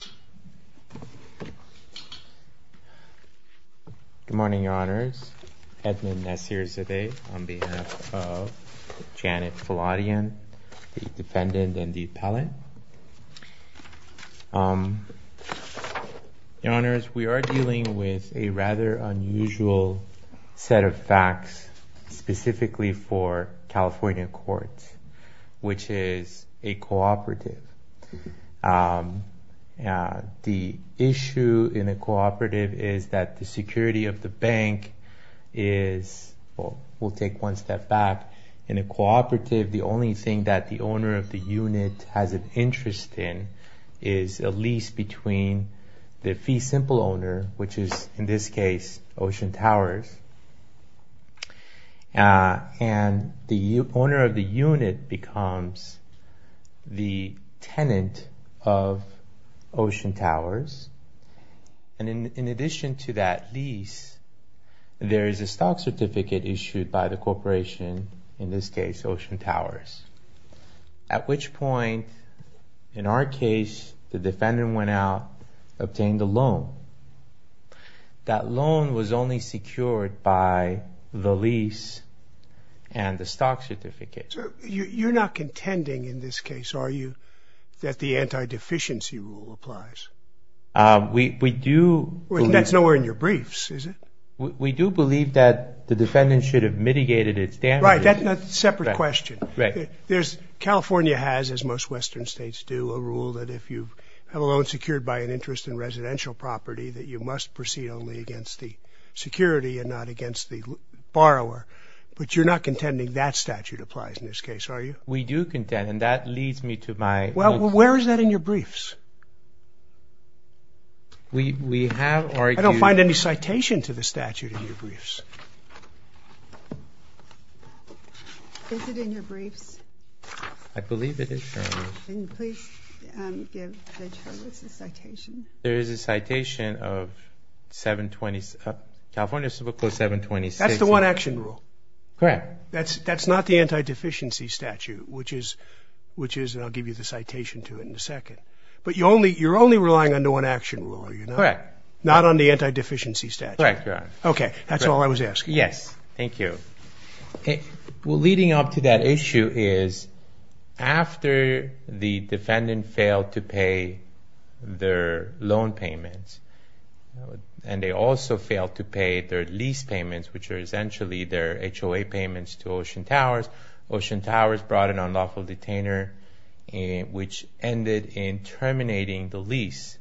Good morning, Your Honors. Edmund Nasirzadeh on behalf of Janet Fuladian, the defendant and the appellant. Your Honors, we are dealing with a rather unusual set of facts specifically for California Courts, which is a cooperative. The issue in a cooperative is that the security of the bank is, we'll take one step back, in a cooperative the only thing that the owner of the unit has an interest in is a lease between the fee simple owner, which is in this case Ocean Towers, and the owner of the unit becomes the tenant of Ocean Towers, and in addition to that lease there is a stock certificate issued by the corporation, in which point, in our case, the defendant went out and obtained a loan. That loan was only secured by the lease and the stock certificate. You're not contending in this case, are you, that the anti-deficiency rule applies? We do. That's nowhere in your briefs, is it? We do believe that the defendant should have mitigated its damages. Right, that's a separate question. California has, as most Western states do, a rule that if you have a loan secured by an interest in residential property that you must proceed only against the security and not against the borrower, but you're not contending that statute applies in this case, are you? We do contend, and that leads me to my... Well, where is that in your briefs? We have argued... I don't find any citation to the statute in your briefs. Is it in your briefs? I believe it is, Your Honor. Can you please give the charges a citation? There is a citation of 720... California Civil Code 726... That's the one-action rule? Correct. That's not the anti-deficiency statute, which is, and I'll give you the citation to it in a second, but you're only relying on the one-action rule, are you not? Correct. Not on the anti-deficiency statute? Correct, Your Honor. Okay, that's all I was asking. Yes, thank you. Well, leading up to that issue is, after the defendant failed to pay their loan payments, and they also failed to pay their lease payments, which are essentially their HOA payments to Ocean Towers, Ocean Towers brought an unlawful detainer, which ended in terminating the lease.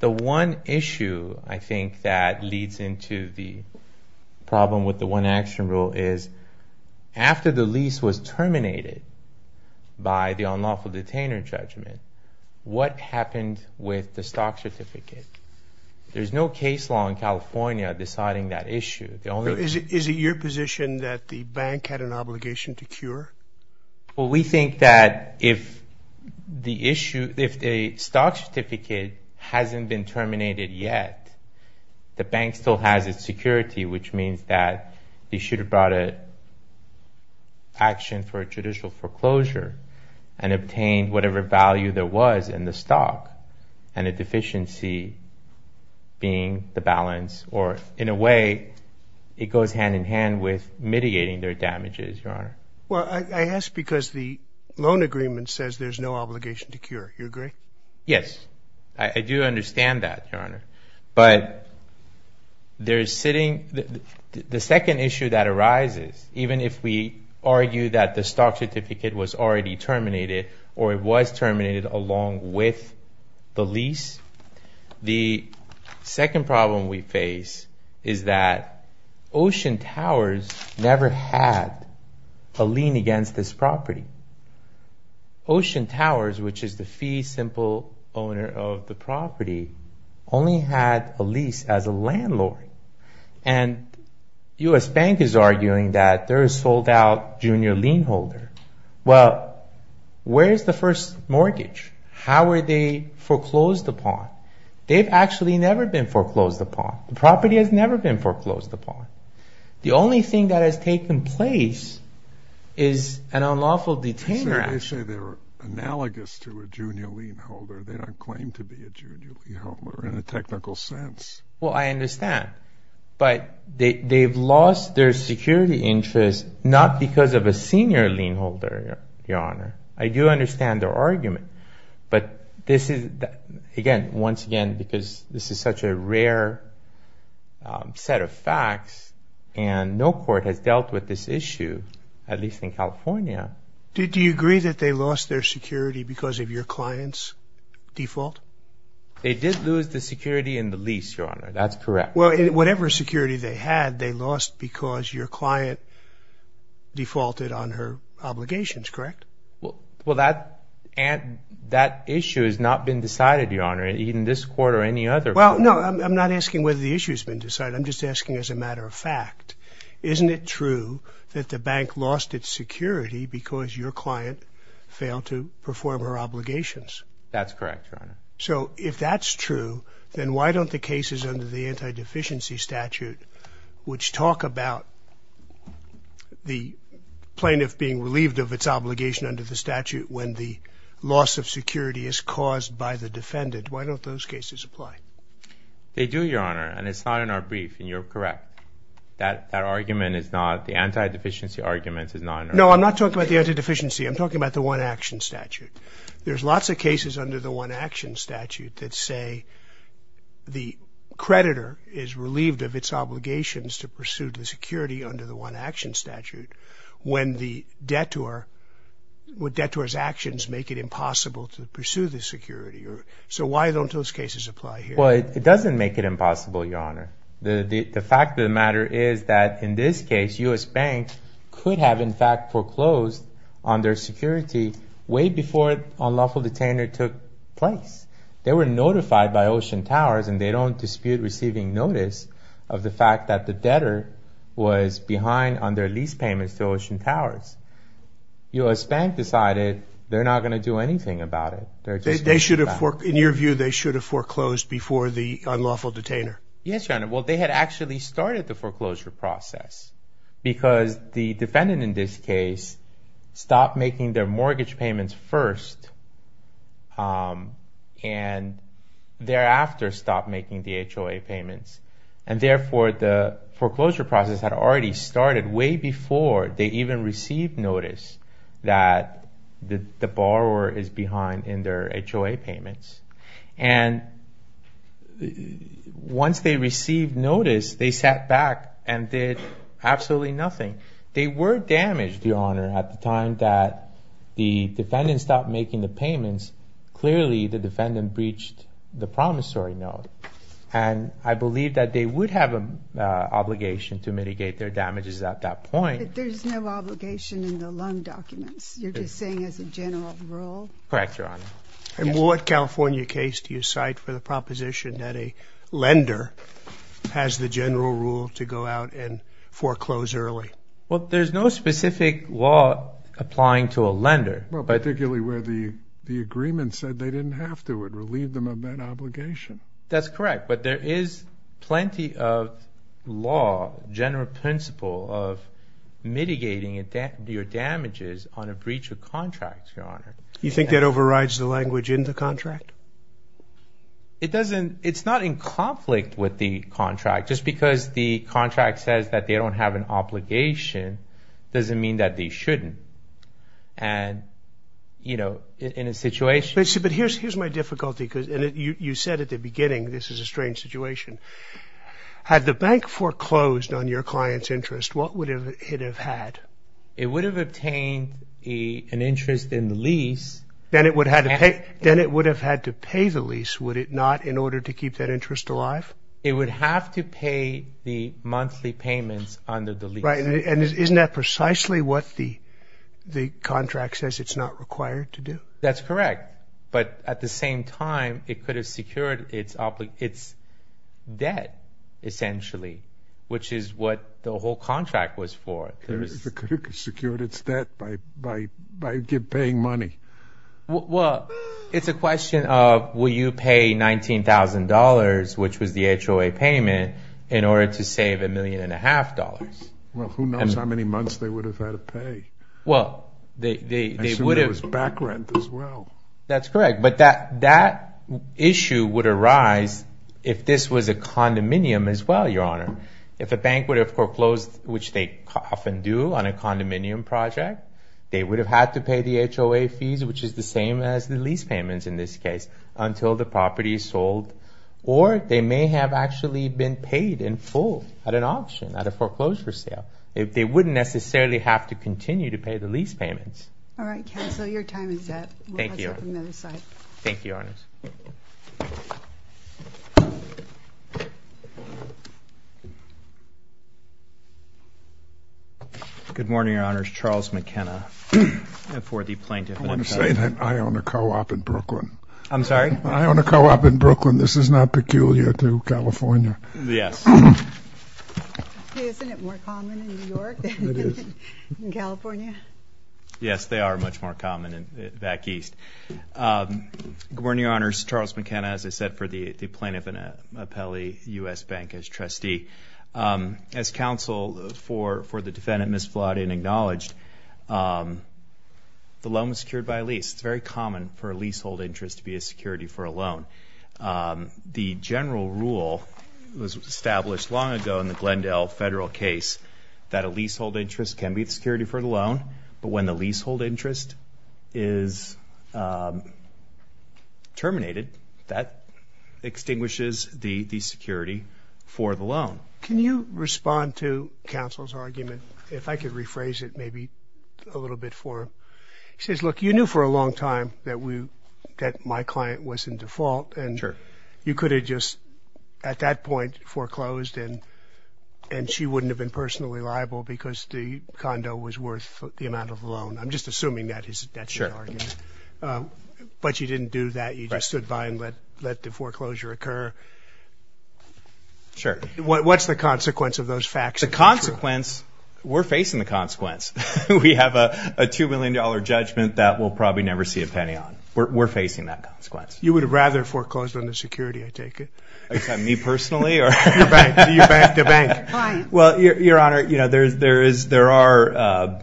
The one issue, I think, that leads into the problem with the one-action rule is, after the lease was terminated by the unlawful detainer judgment, what happened with the stock certificate? There's no case law in California deciding that We think that if the stock certificate hasn't been terminated yet, the bank still has its security, which means that they should have brought an action for a judicial foreclosure and obtained whatever value there was in the stock, and a deficiency being the balance, or in a way, it agreement says there's no obligation to cure. You agree? Yes, I do understand that, Your Honor, but there's sitting... The second issue that arises, even if we argue that the stock certificate was already terminated, or it was terminated along with the lease, the second problem we face is that Ocean Towers never had a lien against this property. Ocean Towers, which is the fee-simple owner of the property, only had a lease as a landlord, and U.S. Bank is arguing that they're a sold-out junior lien holder. Well, where's the first mortgage? How were they foreclosed upon? They've actually never been foreclosed upon. The property has never been foreclosed upon. The only thing that has taken place is an unlawful detainer action. They say they're analogous to a junior lien holder. They don't claim to be a junior lien holder in a technical sense. Well, I understand, but they've lost their security interest not because of a senior lien holder, Your Honor. I do understand their argument, but this is, again, because this is such a rare set of facts, and no court has dealt with this issue, at least in California. Did you agree that they lost their security because of your client's default? They did lose the security in the lease, Your Honor. That's correct. Well, whatever security they had, they lost because your client defaulted on her obligations, correct? Well, that issue has not been decided, Your Honor, in this court or any other. Well, no, I'm not asking whether the issue's been decided. I'm just asking as a matter of fact, isn't it true that the bank lost its security because your client failed to perform her obligations? That's correct, Your Honor. So, if that's true, then why don't the cases under the anti-deficiency statute, which talk about the plaintiff being by the defendant, why don't those cases apply? They do, Your Honor, and it's not in our brief, and you're correct. That argument is not, the anti-deficiency argument is not in our brief. No, I'm not talking about the anti-deficiency. I'm talking about the one-action statute. There's lots of cases under the one-action statute that say the creditor is relieved of its obligations to pursue the security under the one-action statute when the detour, when detour's actions make it impossible to pursue the security. So, why don't those cases apply here? Well, it doesn't make it impossible, Your Honor. The fact of the matter is that in this case, U.S. Bank could have, in fact, foreclosed on their security way before unlawful detainment took place. They were notified by Ocean Towers, and they don't dispute receiving notice of the fact that the debtor was behind on their lease payments to Ocean Towers. U.S. Bank decided they're not going to do anything about it. They should have, in your view, they should have foreclosed before the unlawful detainer. Yes, Your Honor. Well, they had actually started the foreclosure process because the defendant, in this case, stopped making their mortgage payments first, and thereafter stopped making the HOA payments. And therefore, the foreclosure process had already started way before they even received notice that the borrower is behind in their HOA payments. And once they received notice, they sat back and did absolutely nothing. They were damaged, Your Honor, at the time that the defendant breached the promissory note. And I believe that they would have an obligation to mitigate their damages at that point. But there's no obligation in the loan documents. You're just saying as a general rule? Correct, Your Honor. And what California case do you cite for the proposition that a lender has the general rule to go out and foreclose early? Well, there's no relieve them of that obligation. That's correct. But there is plenty of law, general principle, of mitigating your damages on a breach of contract, Your Honor. You think that overrides the language in the contract? It doesn't. It's not in conflict with the contract. Just because the contract says that they don't have an obligation doesn't mean that they shouldn't. But here's my difficulty. You said at the beginning, this is a strange situation. Had the bank foreclosed on your client's interest, what would it have had? It would have obtained an interest in the lease. Then it would have had to pay the lease, would it not, in order to keep that interest alive? It would have to pay the monthly payments under the lease. And isn't that what the contract says it's not required to do? That's correct. But at the same time, it could have secured its debt, essentially, which is what the whole contract was for. It could have secured its debt by paying money. Well, it's a question of, will you pay $19,000, which was the HOA payment, in order to save a million and a half dollars? Well, who knows how many months they would have had to pay? I assume there was back rent as well. That's correct. But that issue would arise if this was a condominium as well, Your Honor. If a bank would have foreclosed, which they often do on a condominium project, they would have had to pay the HOA fees, which is the same as the lease payments in this case, until the property is sold. Or they may have actually been paid in full at an auction, at a foreclosure sale. They wouldn't necessarily have to continue to pay the lease payments. All right, counsel, your time is up. Thank you. Thank you, Your Honors. Good morning, Your Honors. Charles McKenna for the Plaintiff. I want to say that I own a co-op in Brooklyn. I'm sorry? I own a co-op in Brooklyn. This is not peculiar to California. Yes. Isn't it more common in New York than in California? Yes, they are much more common back east. Good morning, Your Honors. Charles McKenna, as I said, for the Plaintiff and Appellee, U.S. Bank as Trustee. As counsel, for the defendant misflawed and acknowledged, the loan was secured by a lease. It's very common for a leasehold interest to be a security for a loan. The general rule was established long ago in the Glendale federal case that a leasehold interest can be the security for the loan, but when the leasehold interest is terminated, that extinguishes the security for the loan. Can you respond to counsel's argument, if I could rephrase it maybe a little bit for him? He says, look, you knew for a long time that my client was in default and you could have just at that point foreclosed and she wouldn't have been personally liable because the condo was worth the amount of the loan. I'm just assuming that's your argument, but you didn't do that. You just stood by and let the foreclosure occur. Sure. What's the consequence of those facts? The consequence, we're facing the consequence. We have a $2 million judgment that we'll probably never see a penny on. We're facing that consequence. You would have rather foreclosed on the security, I take it? Me personally? The bank. Your Honor, there are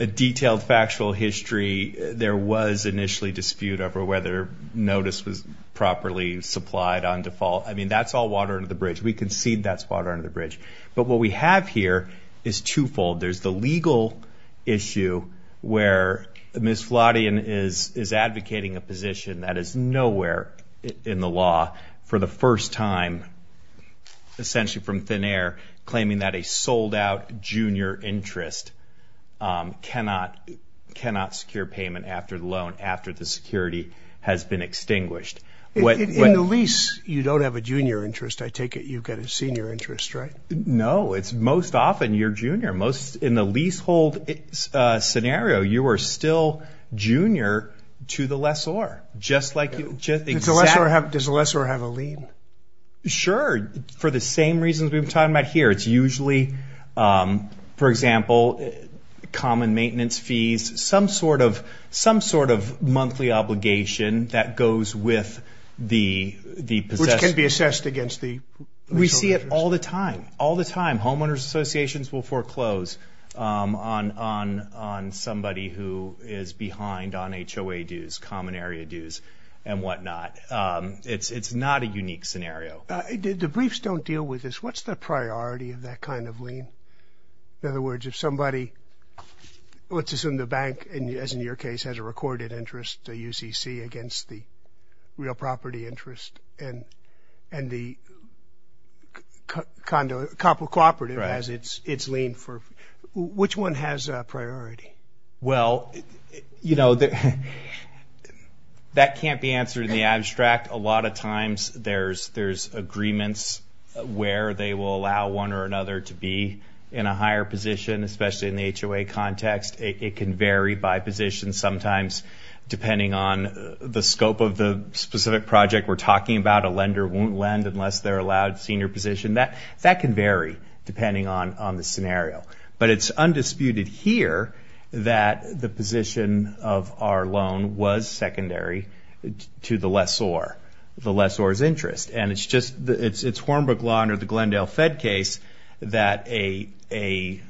a detailed factual history. There was initially dispute over whether notice was properly supplied on default. I mean, that's all water under the bridge. We concede that's water under the bridge. But what we have here is twofold. There's the legal issue where Ms. Flodian is advocating a position that is nowhere in the law for the first time, essentially from thin air, claiming that a sold out junior interest cannot secure payment after the loan, after the security has been extinguished. In the lease, you don't have a junior interest. I take it you've got a senior interest, right? No. Most often, you're junior. In the leasehold scenario, you are still junior to the lessor. Does the lessor have a lien? Sure. For the same reasons we've been talking about here. It's usually, for example, common which can be assessed against the leaseholders. We see it all the time. All the time. Homeowners associations will foreclose on somebody who is behind on HOA dues, common area dues, and whatnot. It's not a unique scenario. The briefs don't deal with this. What's the priority of that kind of lien? In other words, if somebody, let's assume the bank, as in your case, has a recorded interest, a UCC, against the real property interest, and the cooperative has its lien, which one has a priority? Well, that can't be answered in the abstract. A lot of times, there's agreements where they will allow one or another to be in a higher position, especially in the HOA context. It can vary by position sometimes depending on the scope of the specific project we're talking about. A lender won't lend unless they're allowed senior position. That can vary depending on the scenario. But it's undisputed here that the position of our loan was secondary to the lessor, the lessor's interest. It's Hornbrook Law under the Glendale Fed case that a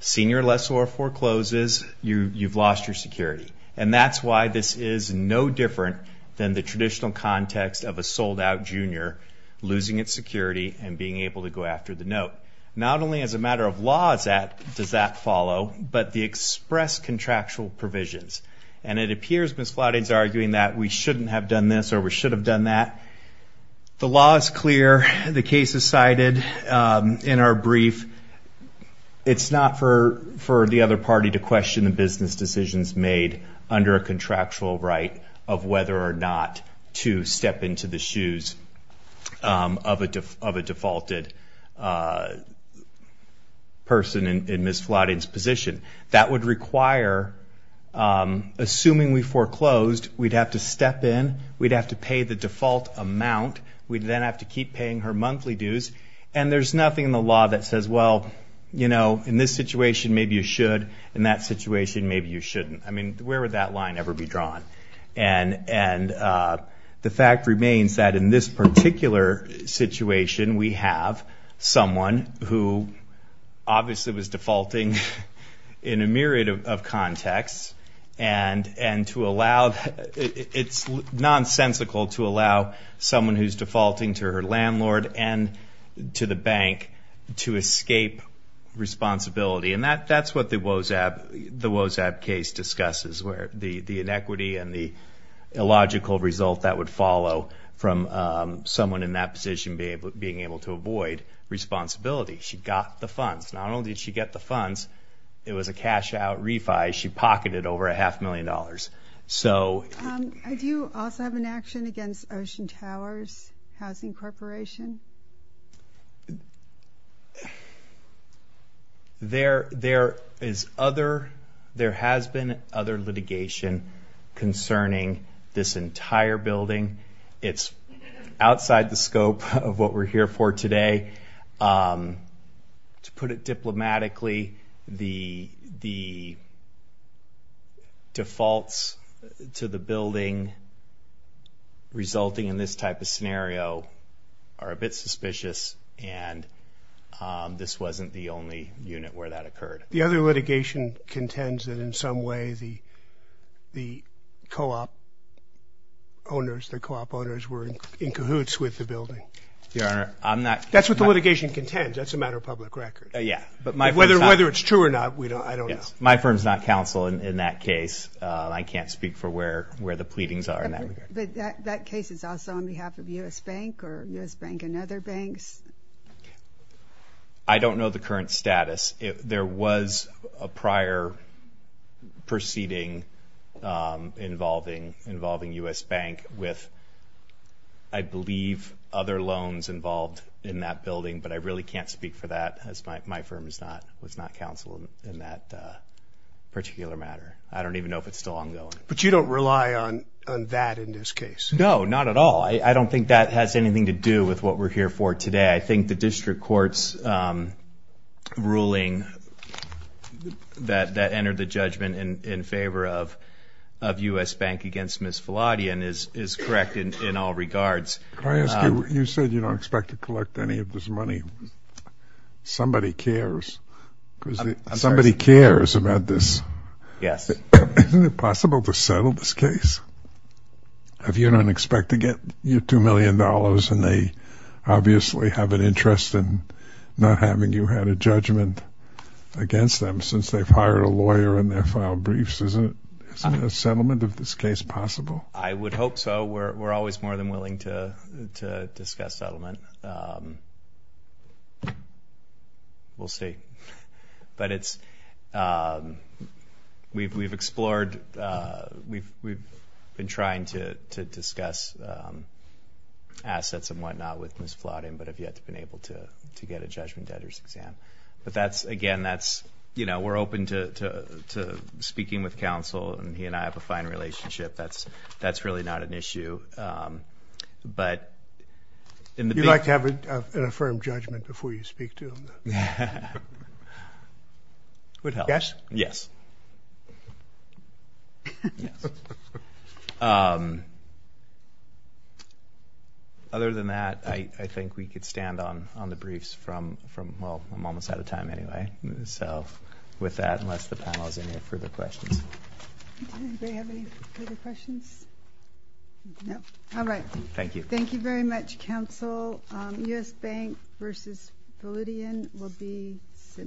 senior lessor forecloses, you've lost your security. And that's why this is no different than the traditional context of a sold-out junior losing its security and being able to go after the note. Not only as a matter of law does that follow, but the express contractual provisions. And it appears, Ms. Flodding's arguing that we shouldn't have done this or we should have done that. The law is clear. The case is cited in our brief. It's not for the other party to question the business decisions made under a contractual right of whether or not to step into the shoes of a defaulted person in Ms. Flodding's position. That would require, assuming we foreclosed, we'd have to step in, we'd have to pay the default amount, we'd then have to keep paying her monthly dues. And there's nothing in the law that says, well, you know, in this situation maybe you should, in that situation maybe you shouldn't. I mean, where would that line ever be drawn? And the fact remains that in this particular situation, we have someone who obviously was defaulting in a myriad of contexts. And to allow, it's nonsensical to allow someone who's defaulting to her landlord and to the bank to escape responsibility. And that's what the Wozab case discusses, where the inequity and the illogical result that would follow from someone in that position being able to avoid responsibility. She got the funds. Not only did she get the funds, it was a cash-out refi. She pocketed over a half million dollars. Do you also have an action against Ocean Towers Housing Corporation? There is other, there has been other litigation concerning this entire building. It's outside the scope of what we're here for today. To put it diplomatically, the defaults to the building resulting in this type of scenario are a bit suspicious. And this wasn't the only unit where that occurred. The other litigation contends that in some way the co-op owners, the co-op owners were in cahoots with the building. Your Honor, I'm not... That's what the litigation contends. That's a matter of public record. Yeah, but my firm's not... Whether it's true or not, we don't, I don't know. My firm's not counsel in that case. I can't speak for where the pleadings are in that regard. But that case is also on behalf of U.S. Bank or U.S. Bank and other banks? I don't know the current status. There was a prior proceeding involving U.S. Bank with, I believe, other loans involved in that building, but I really can't speak for that as my firm is not, was not counsel in that particular matter. I don't even know if it's still ongoing. But you don't rely on that in this case? No, not at all. I don't think that has anything to do with what we're here for today. I think the district court's ruling that entered the judgment in favor of U.S. Bank against Ms. Fallotian is correct in all regards. Can I ask you, you said you don't expect to collect any of this money. Somebody cares. Somebody cares about this. Yes. Isn't it possible to settle this case? If you don't expect to get your $2 million and they obviously have an interest in not having you had a judgment against them since they've hired a lawyer and they filed briefs, isn't a settlement of this case possible? I would hope so. We're always more than willing to discuss settlement. We'll see. But it's, we've explored, we've been trying to discuss assets and whatnot with Ms. Fallotian, but have yet to been able to get a judgment debtors exam. But that's, again, that's, you know, we're open to speaking with counsel and he and I have a fine relationship. That's really not an issue. But in the big... You like to have an affirmed judgment before you speak to them. Would help. Cash? Yes. Other than that, I think we could stand on the briefs from, well, I'm almost out of time anyway. So with that, unless the panel has any further questions. Does anybody have any further questions? No. All right. Thank you. Thank you very much, counsel. U.S. Bank v. Fallotian will be sitting...